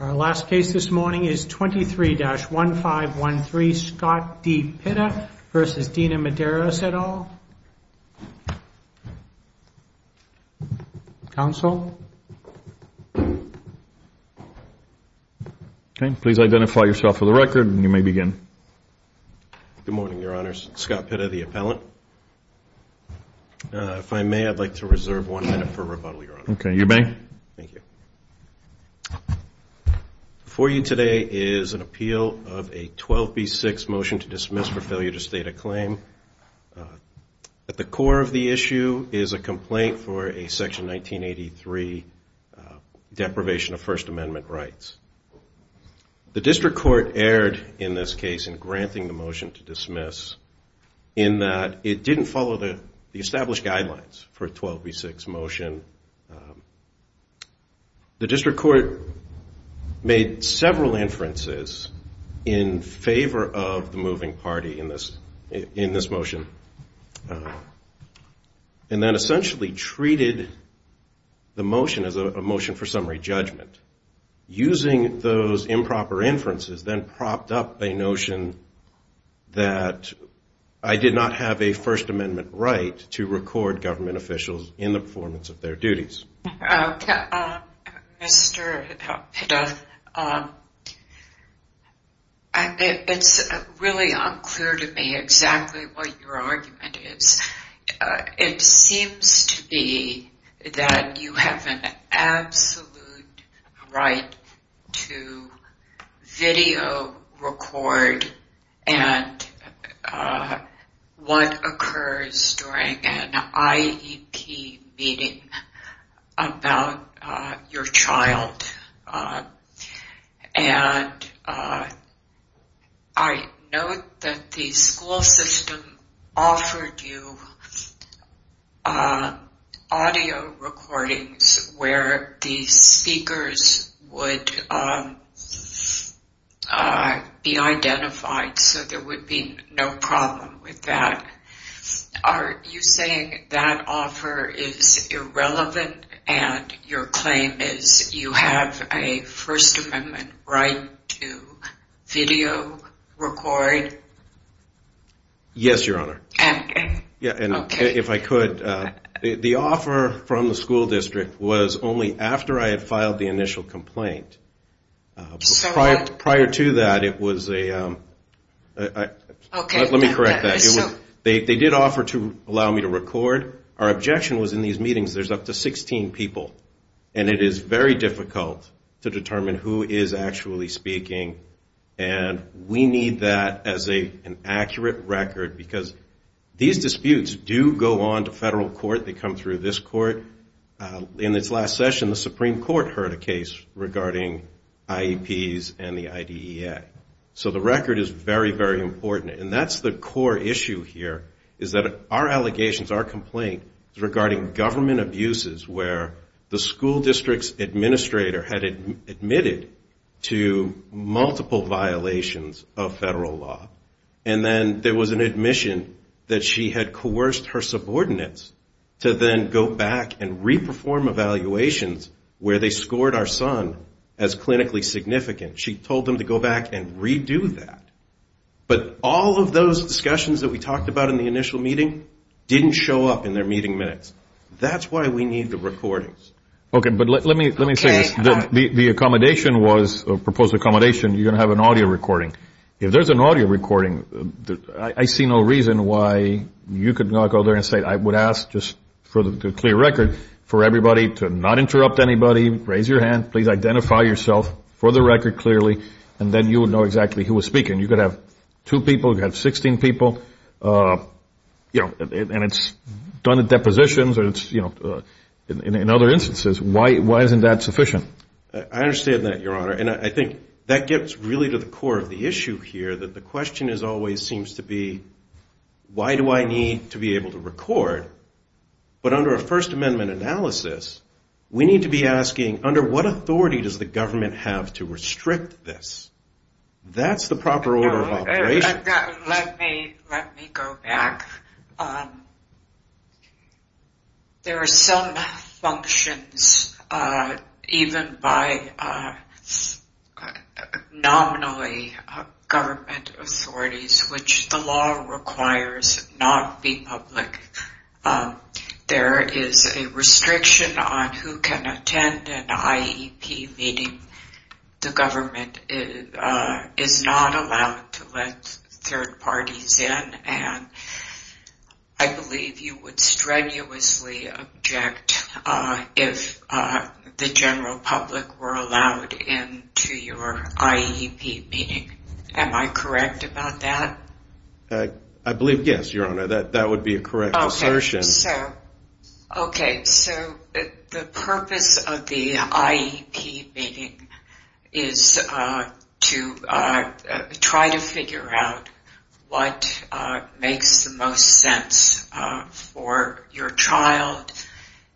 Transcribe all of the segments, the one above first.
Our last case this morning is 23-1513, Scott D. Pitta v. Dina Medeiros et al. Counsel? Please identify yourself for the record, and you may begin. Good morning, Your Honors. Scott Pitta, the appellant. If I may, I'd like to reserve one minute for rebuttal, Your Honor. Okay, you may. Thank you. Before you today is an appeal of a 12B6 motion to dismiss for failure to state a claim. At the core of the issue is a complaint for a Section 1983 deprivation of First Amendment rights. The district court erred in this case in granting the motion to dismiss in that it didn't follow the established guidelines for a 12B6 motion. The district court made several inferences in favor of the moving party in this motion and then essentially treated the motion as a motion for summary judgment. Using those improper inferences then propped up a notion that I did not have a First Amendment right to record government officials in the performance of their duties. Mr. Pitta, it's really unclear to me exactly what your argument is. It seems to be that you have an absolute right to video record what occurs during an IEP meeting about your child, and I note that the school system offered you audio recordings where the speakers would be identified, so there would be no problem with that. Are you saying that offer is irrelevant and your claim is you have a First Amendment right to video record? Yes, Your Honor. If I could, the offer from the school district was only after I had filed the initial complaint. Prior to that, it was a... Let me correct that. They did offer to allow me to record. Our objection was in these meetings there's up to 16 people, and it is very difficult to determine who is actually speaking, and we need that as an accurate record because these disputes do go on to federal court. They come through this court. In its last session, the Supreme Court heard a case regarding IEPs and the IDEA, so the record is very, very important, and that's the core issue here is that our allegations, our complaint is regarding government abuses where the school district's administrator had admitted to multiple violations of federal law, and then there was an admission that she had coerced her subordinates to then go back and re-perform evaluations where they scored our son as clinically significant. She told them to go back and redo that. But all of those discussions that we talked about in the initial meeting didn't show up in their meeting minutes. That's why we need the recordings. Okay, but let me say this. The accommodation was, the proposed accommodation, you're going to have an audio recording. If there's an audio recording, I see no reason why you could not go there and say, I would ask just for the clear record for everybody to not interrupt anybody, raise your hand, please identify yourself for the record clearly, and then you would know exactly who was speaking. You could have two people, you could have 16 people, you know, and it's done at depositions or it's, you know, in other instances. Why isn't that sufficient? I understand that, Your Honor, and I think that gets really to the core of the issue here, that the question always seems to be, why do I need to be able to record? But under a First Amendment analysis, we need to be asking, under what authority does the government have to restrict this? That's the proper order of operation. Let me go back. There are some functions, even by nominally government authorities, which the law requires not be public. There is a restriction on who can attend an IEP meeting. The government is not allowed to let third parties in, and I believe you would strenuously object if the general public were allowed into your IEP meeting. Am I correct about that? I believe, yes, Your Honor, that would be a correct assertion. Okay, so the purpose of the IEP meeting is to try to figure out what makes the most sense for your child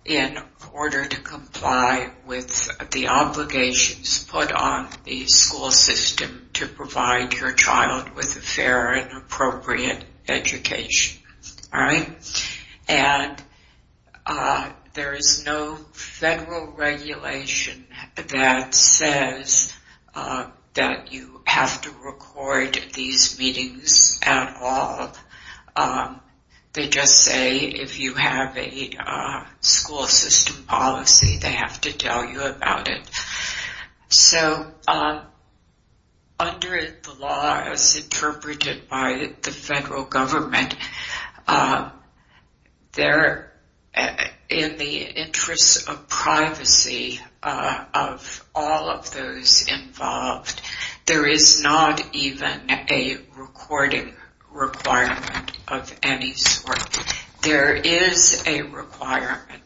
in order to comply with the obligations put on the school system to provide your child with a fair and appropriate education. And there is no federal regulation that says that you have to record these meetings at all. They just say if you have a school system policy, they have to tell you about it. So under the law as interpreted by the federal government, in the interest of privacy of all of those involved, there is not even a recording requirement of any sort. There is a requirement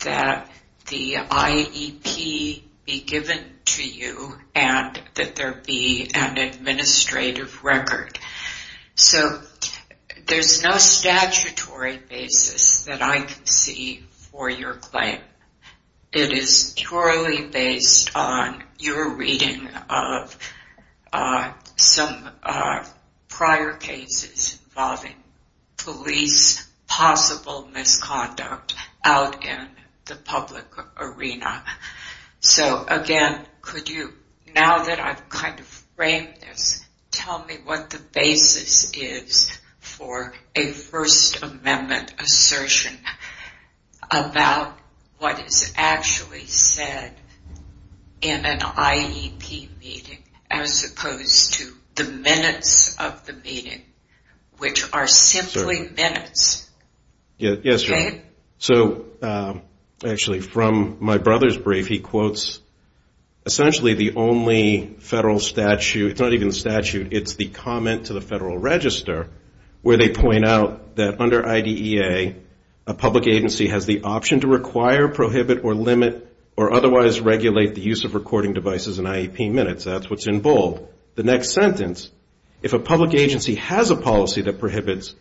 that the IEP be given to you and that there be an administrative record. So there's no statutory basis that I can see for your claim. It is purely based on your reading of some prior cases involving police possible misconduct out in the public arena. So again, could you, now that I've kind of framed this, tell me what the basis is for a First Amendment assertion about what is actually said in an IEP meeting, as opposed to the minutes of the meeting, which are simply minutes? Yes, so actually from my brother's brief, he quotes essentially the only federal statute, it's not even statute, it's the comment to the federal register, where they point out that under IDEA, a public agency has the option to require, prohibit, or limit, or otherwise regulate the use of recording devices in IEP minutes. That's what's in bold. The next sentence, if a public agency has a policy that prohibits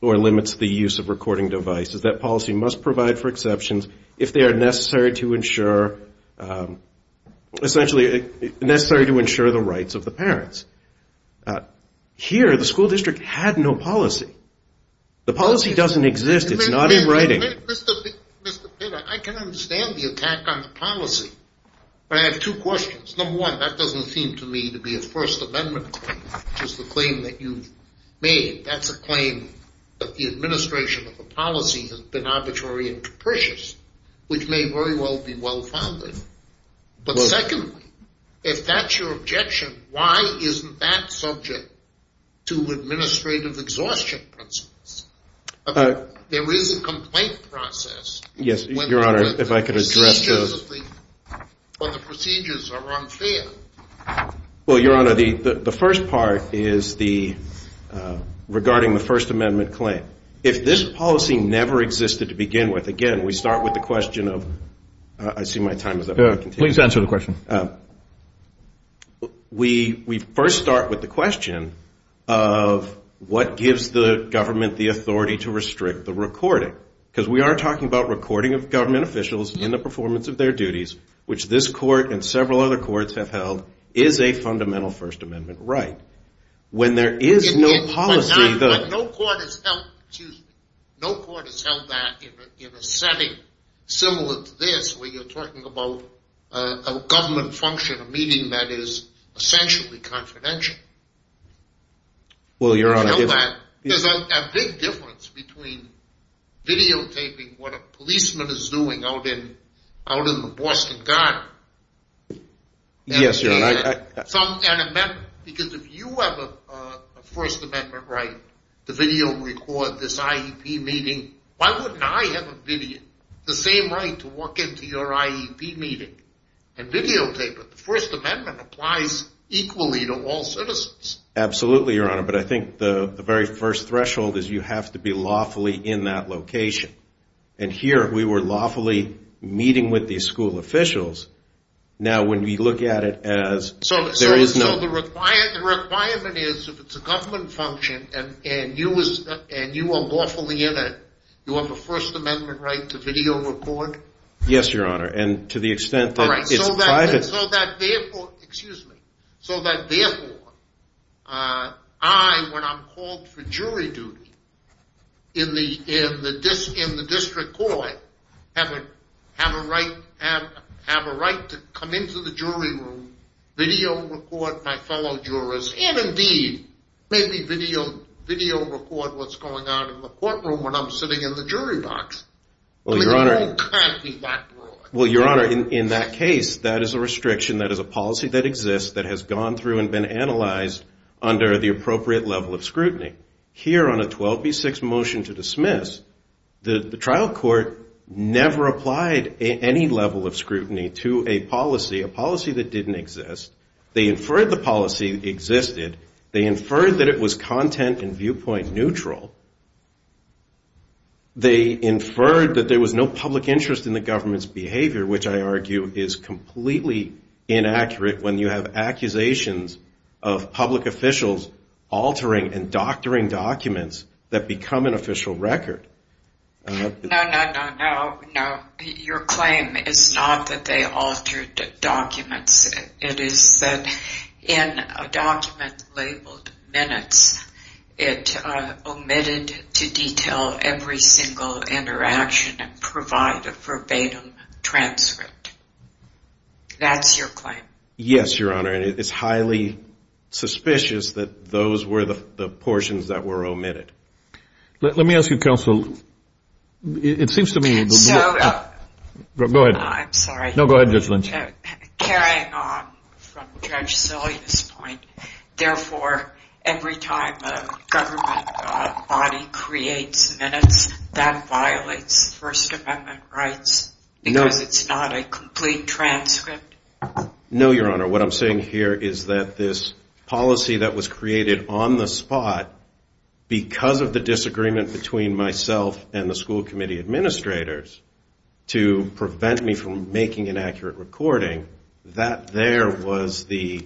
or limits the use of recording devices, that policy must provide for exceptions if they are necessary to ensure the rights of the parents. Here, the school district had no policy. The policy doesn't exist, it's not in writing. Mr. Pitt, I can understand the attack on the policy, but I have two questions. Number one, that doesn't seem to me to be a First Amendment claim, which is the claim that you've made. That's a claim that the administration of the policy has been arbitrary and capricious, which may very well be well-founded. But secondly, if that's your objection, why isn't that subject to administrative exhaustion principles? There is a complaint process. Yes, Your Honor, if I could address those. Well, Your Honor, the first part is regarding the First Amendment claim. If this policy never existed to begin with, again, we start with the question of, I see my time is up. Please answer the question. We first start with the question of, what gives the government the authority to restrict the recording? Because we are talking about recording of government officials in the performance of their duties, which this court and several other courts have held is a fundamental First Amendment right. No court has held that in a setting similar to this, where you're talking about a government function, a meeting that is essentially confidential. There's a big difference between videotaping what a policeman is doing out in the Boston Garden and videotaping an amendment. Because if you have a First Amendment right to video record this IEP meeting, why wouldn't I have the same right to walk into your IEP meeting and videotape it? The First Amendment applies equally to all citizens. Absolutely, Your Honor, but I think the very first threshold is you have to be lawfully in that location. And here, we were lawfully meeting with these school officials. So the requirement is, if it's a government function, and you are lawfully in it, you have a First Amendment right to video record? Yes, Your Honor, and to the extent that it's private. So that therefore, I, when I'm called for jury duty, in the district court, have a right to come into the jury room, video record my fellow jurors, and indeed, maybe video record what's going on in the courtroom when I'm sitting in the jury box. I mean, it all can't be that broad. Well, Your Honor, in that case, that is a restriction, that is a policy that exists that has gone through and been analyzed under the appropriate level of scrutiny. Here, on a 12B6 motion to dismiss, the trial court never applied any level of scrutiny to a policy, a policy that didn't exist. They inferred the policy existed. They inferred that it was content and viewpoint neutral. They inferred that there was no public interest in the government's behavior, which I argue is completely inaccurate when you have accusations of public officials altering and doctoring documents that become an official record. No, no, no, no. Your claim is not that they altered documents. It is that in a document labeled minutes, it omitted to detail every single interaction and provide a verbatim transcript. That's your claim. Yes, Your Honor, and it's highly suspicious that those were the portions that were omitted. Let me ask you, counsel, it seems to me... I'm sorry. Carrying on from Judge Sillia's point, therefore, every time a government body creates minutes, that violates First Amendment rights because it's not a complete transcript? No, Your Honor, what I'm saying here is that this policy that was created on the spot, because of the disagreement between myself and the school committee administrators to prevent me from making an accurate recording, that there was the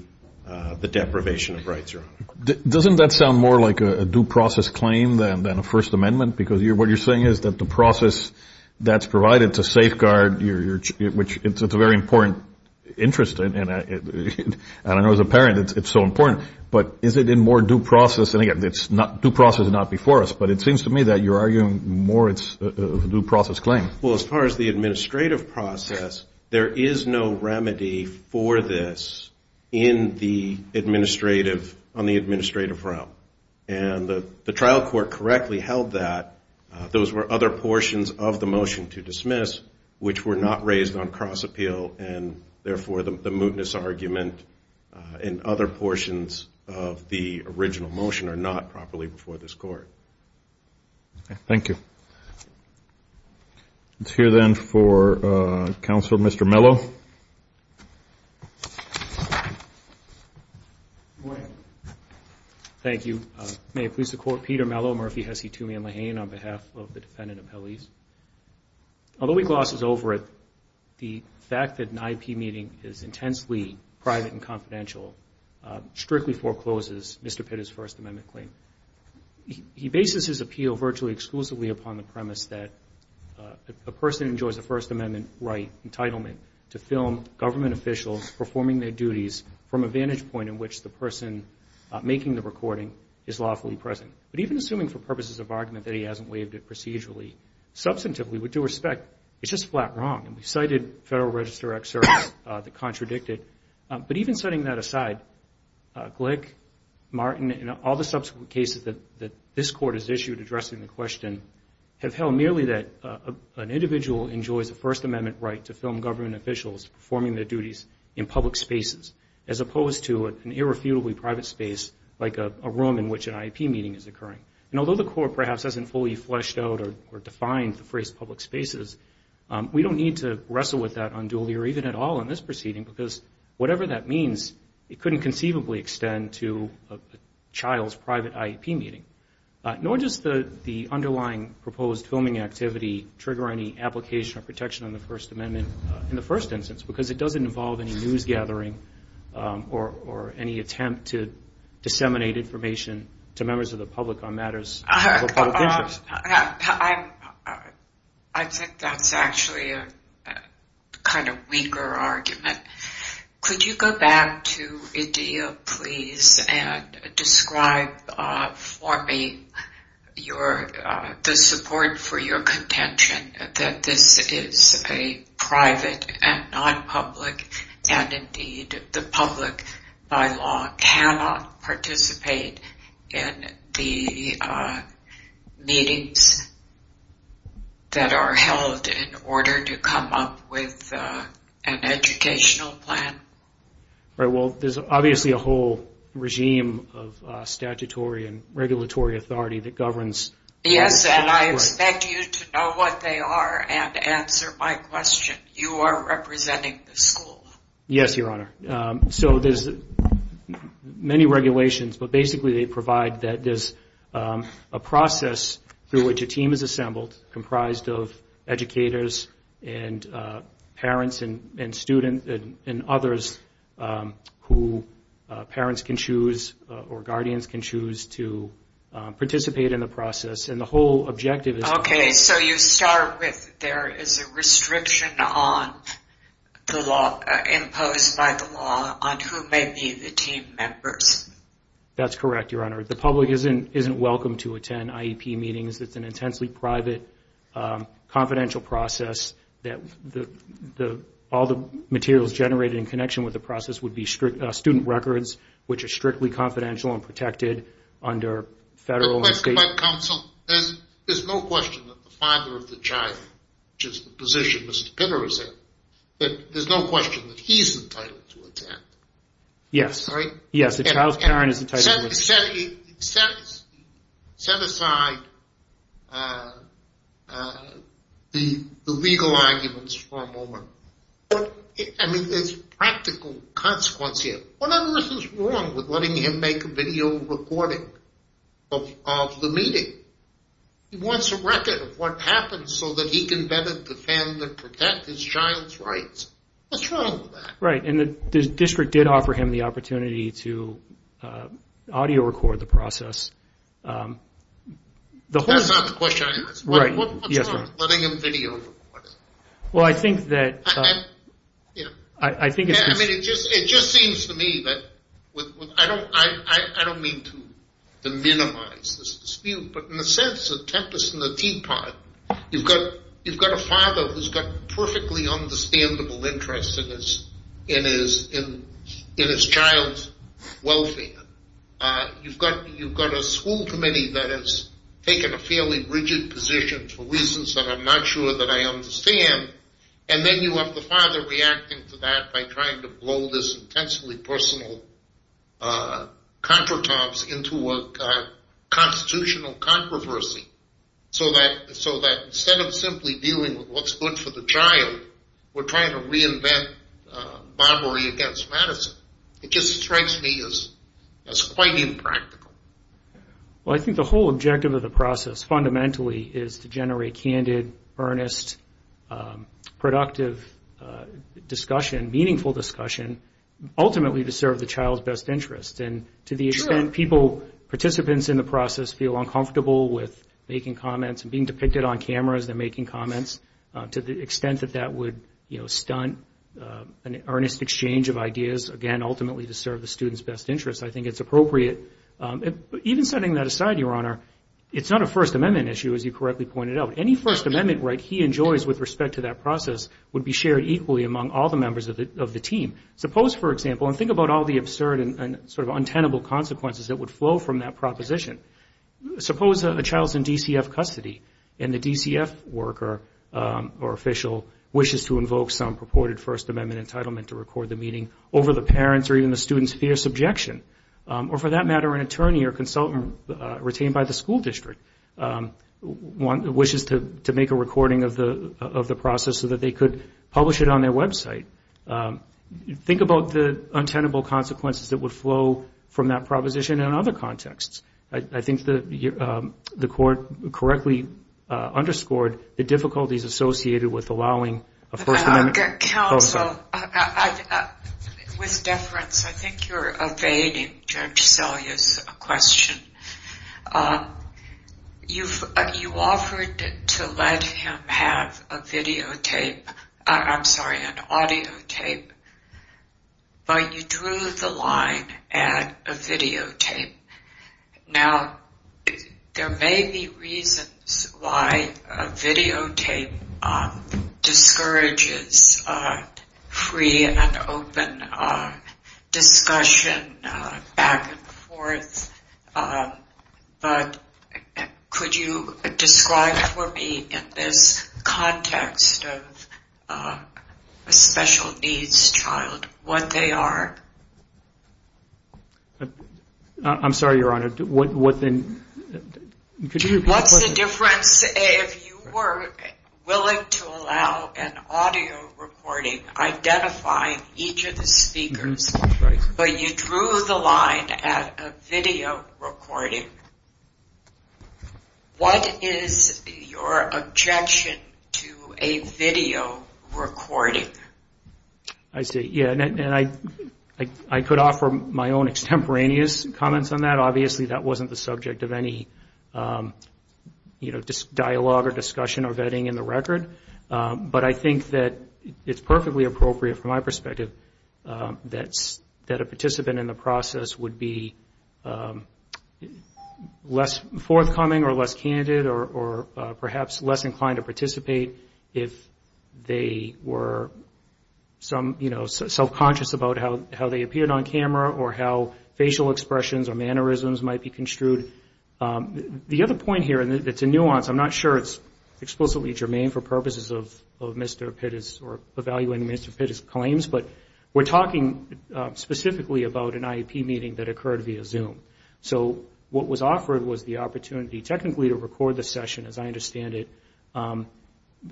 deprivation of rights, Your Honor. Doesn't that sound more like a due process claim than a First Amendment? Because what you're saying is that the process that's provided to safeguard your... It's a very important interest, and I know as a parent it's so important, but is it in more due process? And again, due process is not before us, but it seems to me that you're arguing more it's a due process claim. Well, as far as the administrative process, there is no remedy for this in the administrative, on the administrative realm. And the trial court correctly held that those were other portions of the motion to dismiss, which were not raised on cross-appeal, and therefore the mootness argument and other portions of the original motion are not properly before this Court. Okay, thank you. Let's hear then for Counselor Mr. Mello. Good morning. Thank you. May it please the Court, Peter Mello, Murphy, Hesse, Toomey, and Lahane, on behalf of the defendant appellees. Although he glosses over it, the fact that an IP meeting is intensely private and confidential strictly forecloses Mr. Pitt's First Amendment claim. He bases his appeal virtually exclusively upon the premise that a person enjoys a First Amendment right entitlement to film government officials performing their duties from a vantage point in which the person making the recording is lawfully present. But even assuming for purposes of argument that he hasn't waived it procedurally, substantively, with due respect, it's just flat wrong. And we've cited Federal Register excerpts that contradict it. But even setting that aside, Glick, Martin, and all the subsequent cases that this Court has issued addressing the question, have held merely that an individual enjoys a First Amendment right to film government officials performing their duties in public spaces, as opposed to an irrefutably private space, like a room in which an IP meeting is occurring. And although the Court perhaps hasn't fully fleshed out or defined the phrase public spaces, we don't need to wrestle with that unduly or even at all in this proceeding because whatever that means, it couldn't conceivably extend to a child's private IP meeting. Nor does the underlying proposed filming activity trigger any application or protection on the First Amendment in the first instance, because it doesn't involve any news gathering or any attempt to disseminate information to members of the public on matters of a public interest. I think that's actually a kind of weaker argument. Could you go back to Edea, please, and describe for me the support for your contention that this is a private and non-public, and indeed the public by law cannot participate in the meetings that are held in order to come up with an educational plan? Well, there's obviously a whole regime of statutory and regulatory authority that governs... Yes, and I expect you to know what they are and answer my question. You are representing the school. Yes, Your Honor. So there's many regulations, but basically they provide that there's a process through which a team is assembled comprised of educators and parents and students and others who parents can choose or guardians can choose to participate in the process, and the whole objective is... Okay, so you start with there is a restriction imposed by the law on who may be the team members. That's correct, Your Honor. The public isn't welcome to attend IEP meetings. It's an intensely private, confidential process. All the materials generated in connection with the process would be student records, which are strictly confidential and protected under federal and state... But counsel, there's no question that the father of the child, which is the position Mr. Pitter is in, there's no question that he's entitled to attend, right? Yes, the child's parent is entitled to attend. He set aside the legal arguments for a moment. I mean, there's practical consequence here. What on earth is wrong with letting him make a video recording of the meeting? He wants a record of what happened so that he can better defend and protect his child's rights. What's wrong with that? That's not the question I asked. What's wrong with letting him video record it? I mean, it just seems to me that... I don't mean to minimize this dispute, but in the sense of Tempest and the Teapot, you've got a father who's got perfectly understandable interests in his child's welfare. You've got a school committee that has taken a fairly rigid position for reasons that I'm not sure that I understand, and then you have the father reacting to that by trying to blow this intensely personal contratobs into a constitutional controversy so that instead of simply dealing with what's good for the child, we're trying to reinvent barbary against Madison. It just strikes me as quite impractical. Well, I think the whole objective of the process fundamentally is to generate candid, earnest, productive discussion, and meaningful discussion, ultimately to serve the child's best interests. Participants in the process feel uncomfortable with making comments and being depicted on camera as they're making comments, to the extent that that would stunt an earnest exchange of ideas, again, ultimately to serve the student's best interests. I think it's appropriate. Even setting that aside, Your Honor, it's not a First Amendment issue, as you correctly pointed out. Any First Amendment right he enjoys with respect to that process would be shared equally among all the members of the team. Suppose, for example, and think about all the absurd and sort of untenable consequences that would flow from that proposition. Suppose a child's in DCF custody and the DCF worker or official wishes to invoke some purported First Amendment entitlement to record the meeting over the parent's or even the student's fierce objection. Or for that matter, an attorney or consultant retained by the school district wishes to make a recording of the process so that they could publish it on their website. Think about the untenable consequences that would flow from that proposition in other contexts. I think the Court correctly underscored the difficulties associated with allowing a First Amendment... Counsel, with deference, I think you're evading Judge Selya's question. You offered to let him have a videotape, I'm sorry, an audio tape, but you drew the line at a videotape. Now, there may be reasons why a videotape discourages free and open discussion back and forth, but could you describe for me in this context of a special needs child what they are? I'm sorry, Your Honor. What's the difference if you were willing to allow an audio recording identifying each of the speakers, but you drew the line at a video recording? What is your objection to a video recording? I could offer my own extemporaneous comments on that. Obviously, that wasn't the subject of any dialogue or discussion or vetting in the record, but I think that it's perfectly appropriate from my perspective that a participant in the process would be less forthcoming or less self-conscious about how they appeared on camera or how facial expressions or mannerisms might be construed. The other point here, and it's a nuance, I'm not sure it's explicitly germane for purposes of Mr. Pitt's or evaluating Mr. Pitt's claims, but we're talking specifically about an IEP meeting that occurred via Zoom. So what was offered was the opportunity technically to record the session, as I understand it,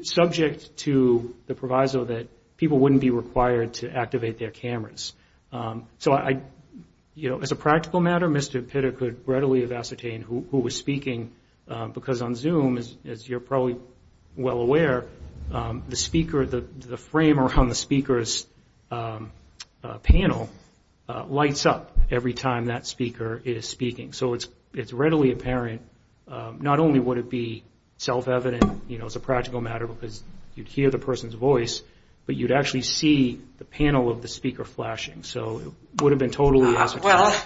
subject to the supervisor that people wouldn't be required to activate their cameras. So as a practical matter, Mr. Pitt could readily have ascertained who was speaking, because on Zoom, as you're probably well aware, the speaker, the frame around the speaker's panel lights up every time that speaker is speaking. So it's readily apparent, not only would it be self-evident as a practical matter, because you'd hear the person's voice, but it's also obvious that you'd actually see the panel of the speaker flashing. So it would have been totally ascertainable. Well,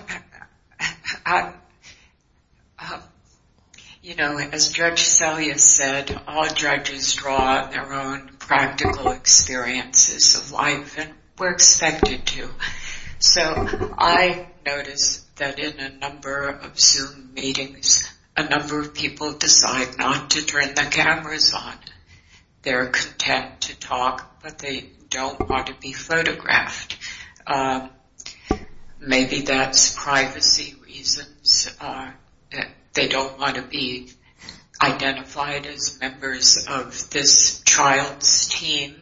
you know, as Judge Selye said, all judges draw their own practical experiences of life, and we're expected to. So I noticed that in a number of Zoom meetings, a number of people decide not to turn their cameras on. They're content to talk, but they're not content to be photographed. Maybe that's privacy reasons. They don't want to be identified as members of this child's team,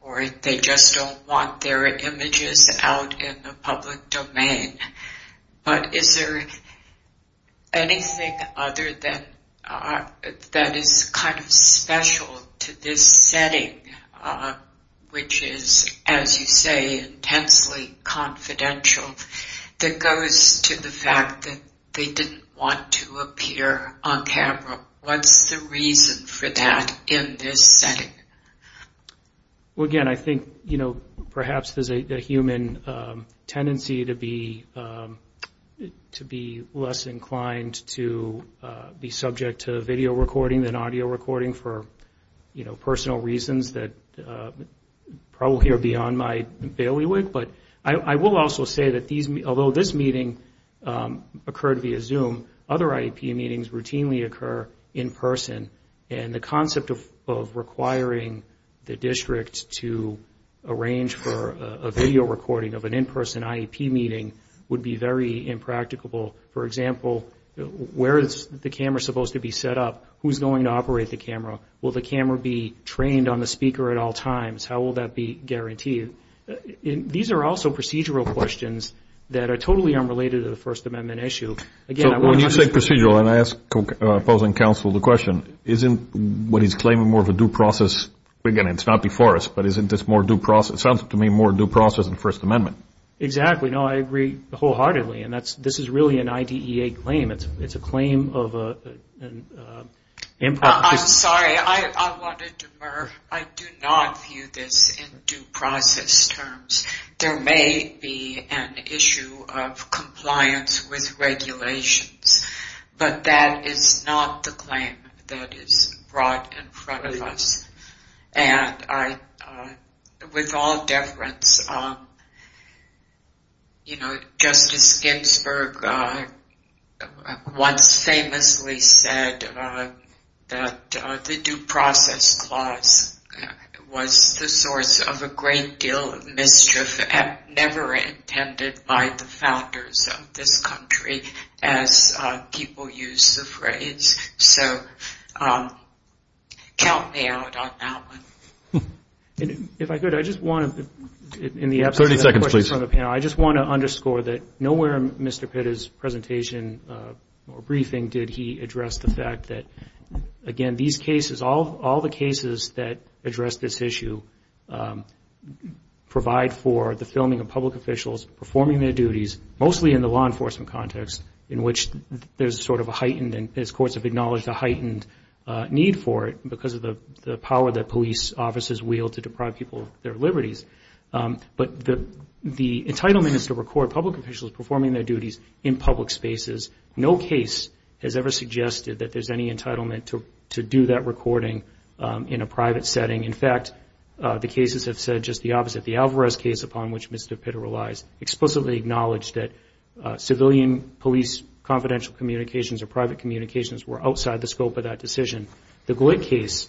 or they just don't want their images out in the public domain. But is there anything other than, that is kind of special to this setting? Is there anything that you know, which is, as you say, intensely confidential, that goes to the fact that they didn't want to appear on camera? What's the reason for that in this setting? Well, again, I think, you know, perhaps there's a human tendency to be less inclined to be subject to video recording than audio recording for, you know, probably are beyond my bailiwick. But I will also say that these, although this meeting occurred via Zoom, other IEP meetings routinely occur in person. And the concept of requiring the district to arrange for a video recording of an in-person IEP meeting would be very impracticable. For example, where is the camera supposed to be set up? Who's going to operate the camera? Will the camera be trained on the ground? How will that be guaranteed? These are also procedural questions that are totally unrelated to the First Amendment issue. When you say procedural, and I ask opposing counsel the question, isn't what he's claiming more of a due process? Again, it's not before us, but isn't this more due process? It sounds to me more due process than First Amendment. Exactly. No, I agree wholeheartedly. And this is really an IDEA claim. It's a claim of an improper... I'm sorry. I wanted to... I do not view this in due process terms. There may be an issue of compliance with regulations, but that is not the claim that is brought in front of us. And with all deference, you know, Justice Ginsburg once famously said that the due process clause was the source of a great deal of mischief, never intended by the founders of this country, as people use the phrase. So count me out on that one. If I could, I just want to... 30 seconds, please. I just want to underscore that nowhere in Mr. Pitta's presentation or briefing did he address the fact that, again, these cases, all the cases that address this issue provide for the filming of public officials performing their duties, mostly in the law enforcement context, in which there's sort of a heightened, as courts have acknowledged, a heightened need for it, because of the power that police officers wield to deprive people of their liberties. But the... The entitlement is to record public officials performing their duties in public spaces. No case has ever suggested that there's any entitlement to do that recording in a private setting. In fact, the cases have said just the opposite. The Alvarez case, upon which Mr. Pitta relies, explicitly acknowledged that civilian police confidential communications or private communications were outside the scope of that decision. The Glick case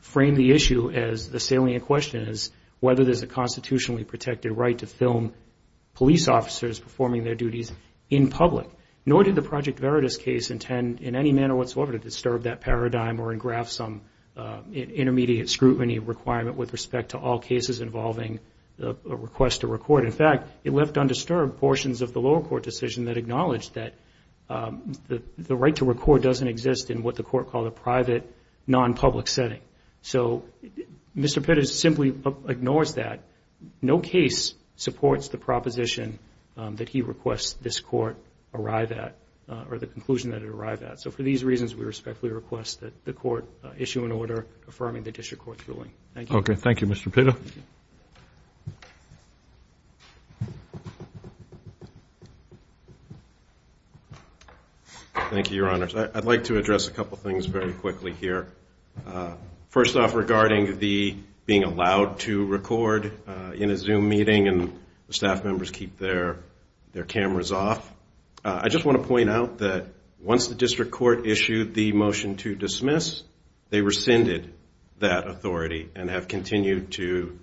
framed the issue as, the salient question is, whether there's a constitutionally protected right to film police officers performing their duties in public. Nor did the Project Veritas case intend in any manner whatsoever to disturb that paradigm or engraft some intermediate scrutiny requirement with respect to all cases involving a request to record. In fact, it left undisturbed portions of the lower court decision that acknowledged that the right to record doesn't exist in what the court called a private, non-public setting. So Mr. Pitta simply ignores that. No case supports the proposition that he requests this court arrive at, or the conclusion that it arrived at. So for these reasons, we respectfully request that the court issue an order affirming the District Court's ruling. Thank you. Thank you, Your Honors. I'd like to address a couple things very quickly here. First off, regarding the being allowed to record in a Zoom meeting, and the staff members keep their cameras off. I just want to point out that once the District Court issued the motion to approve the motion, we will continue to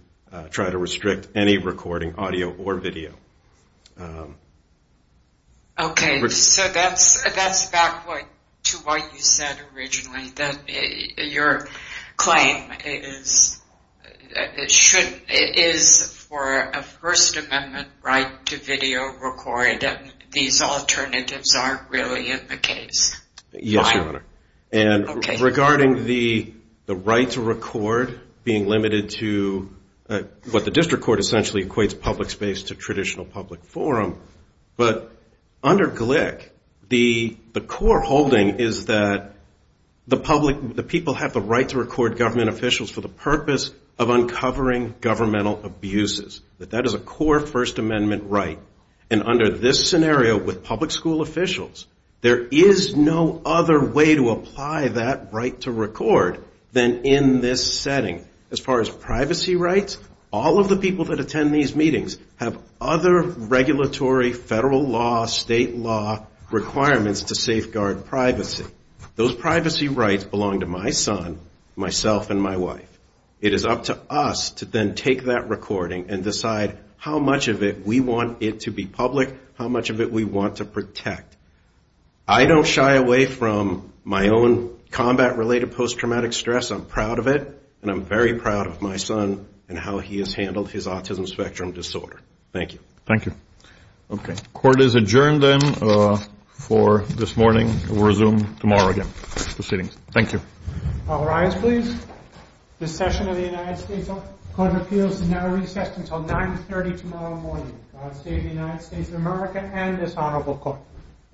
try to restrict any recording, audio, or video. Okay, so that's back to what you said originally, that your claim is for a First Amendment right to video record, and these alternatives aren't really in the case. Yes, Your Honor. And regarding the right to record being limited to a Zoom meeting, it's limited to what the District Court essentially equates public space to traditional public forum. But under Glick, the core holding is that the people have the right to record government officials for the purpose of uncovering governmental abuses. That that is a core First Amendment right. And under this scenario, with public school officials, there is no other way to record public space. All of the privacy rights, all of the people that attend these meetings have other regulatory, federal law, state law requirements to safeguard privacy. Those privacy rights belong to my son, myself, and my wife. It is up to us to then take that recording and decide how much of it we want it to be public, how much of it we want to protect. I don't shy away from my own combat-related post-traumatic stress. I'm proud of it, and I'm very proud of my son. And how he has handled his autism spectrum disorder. Thank you.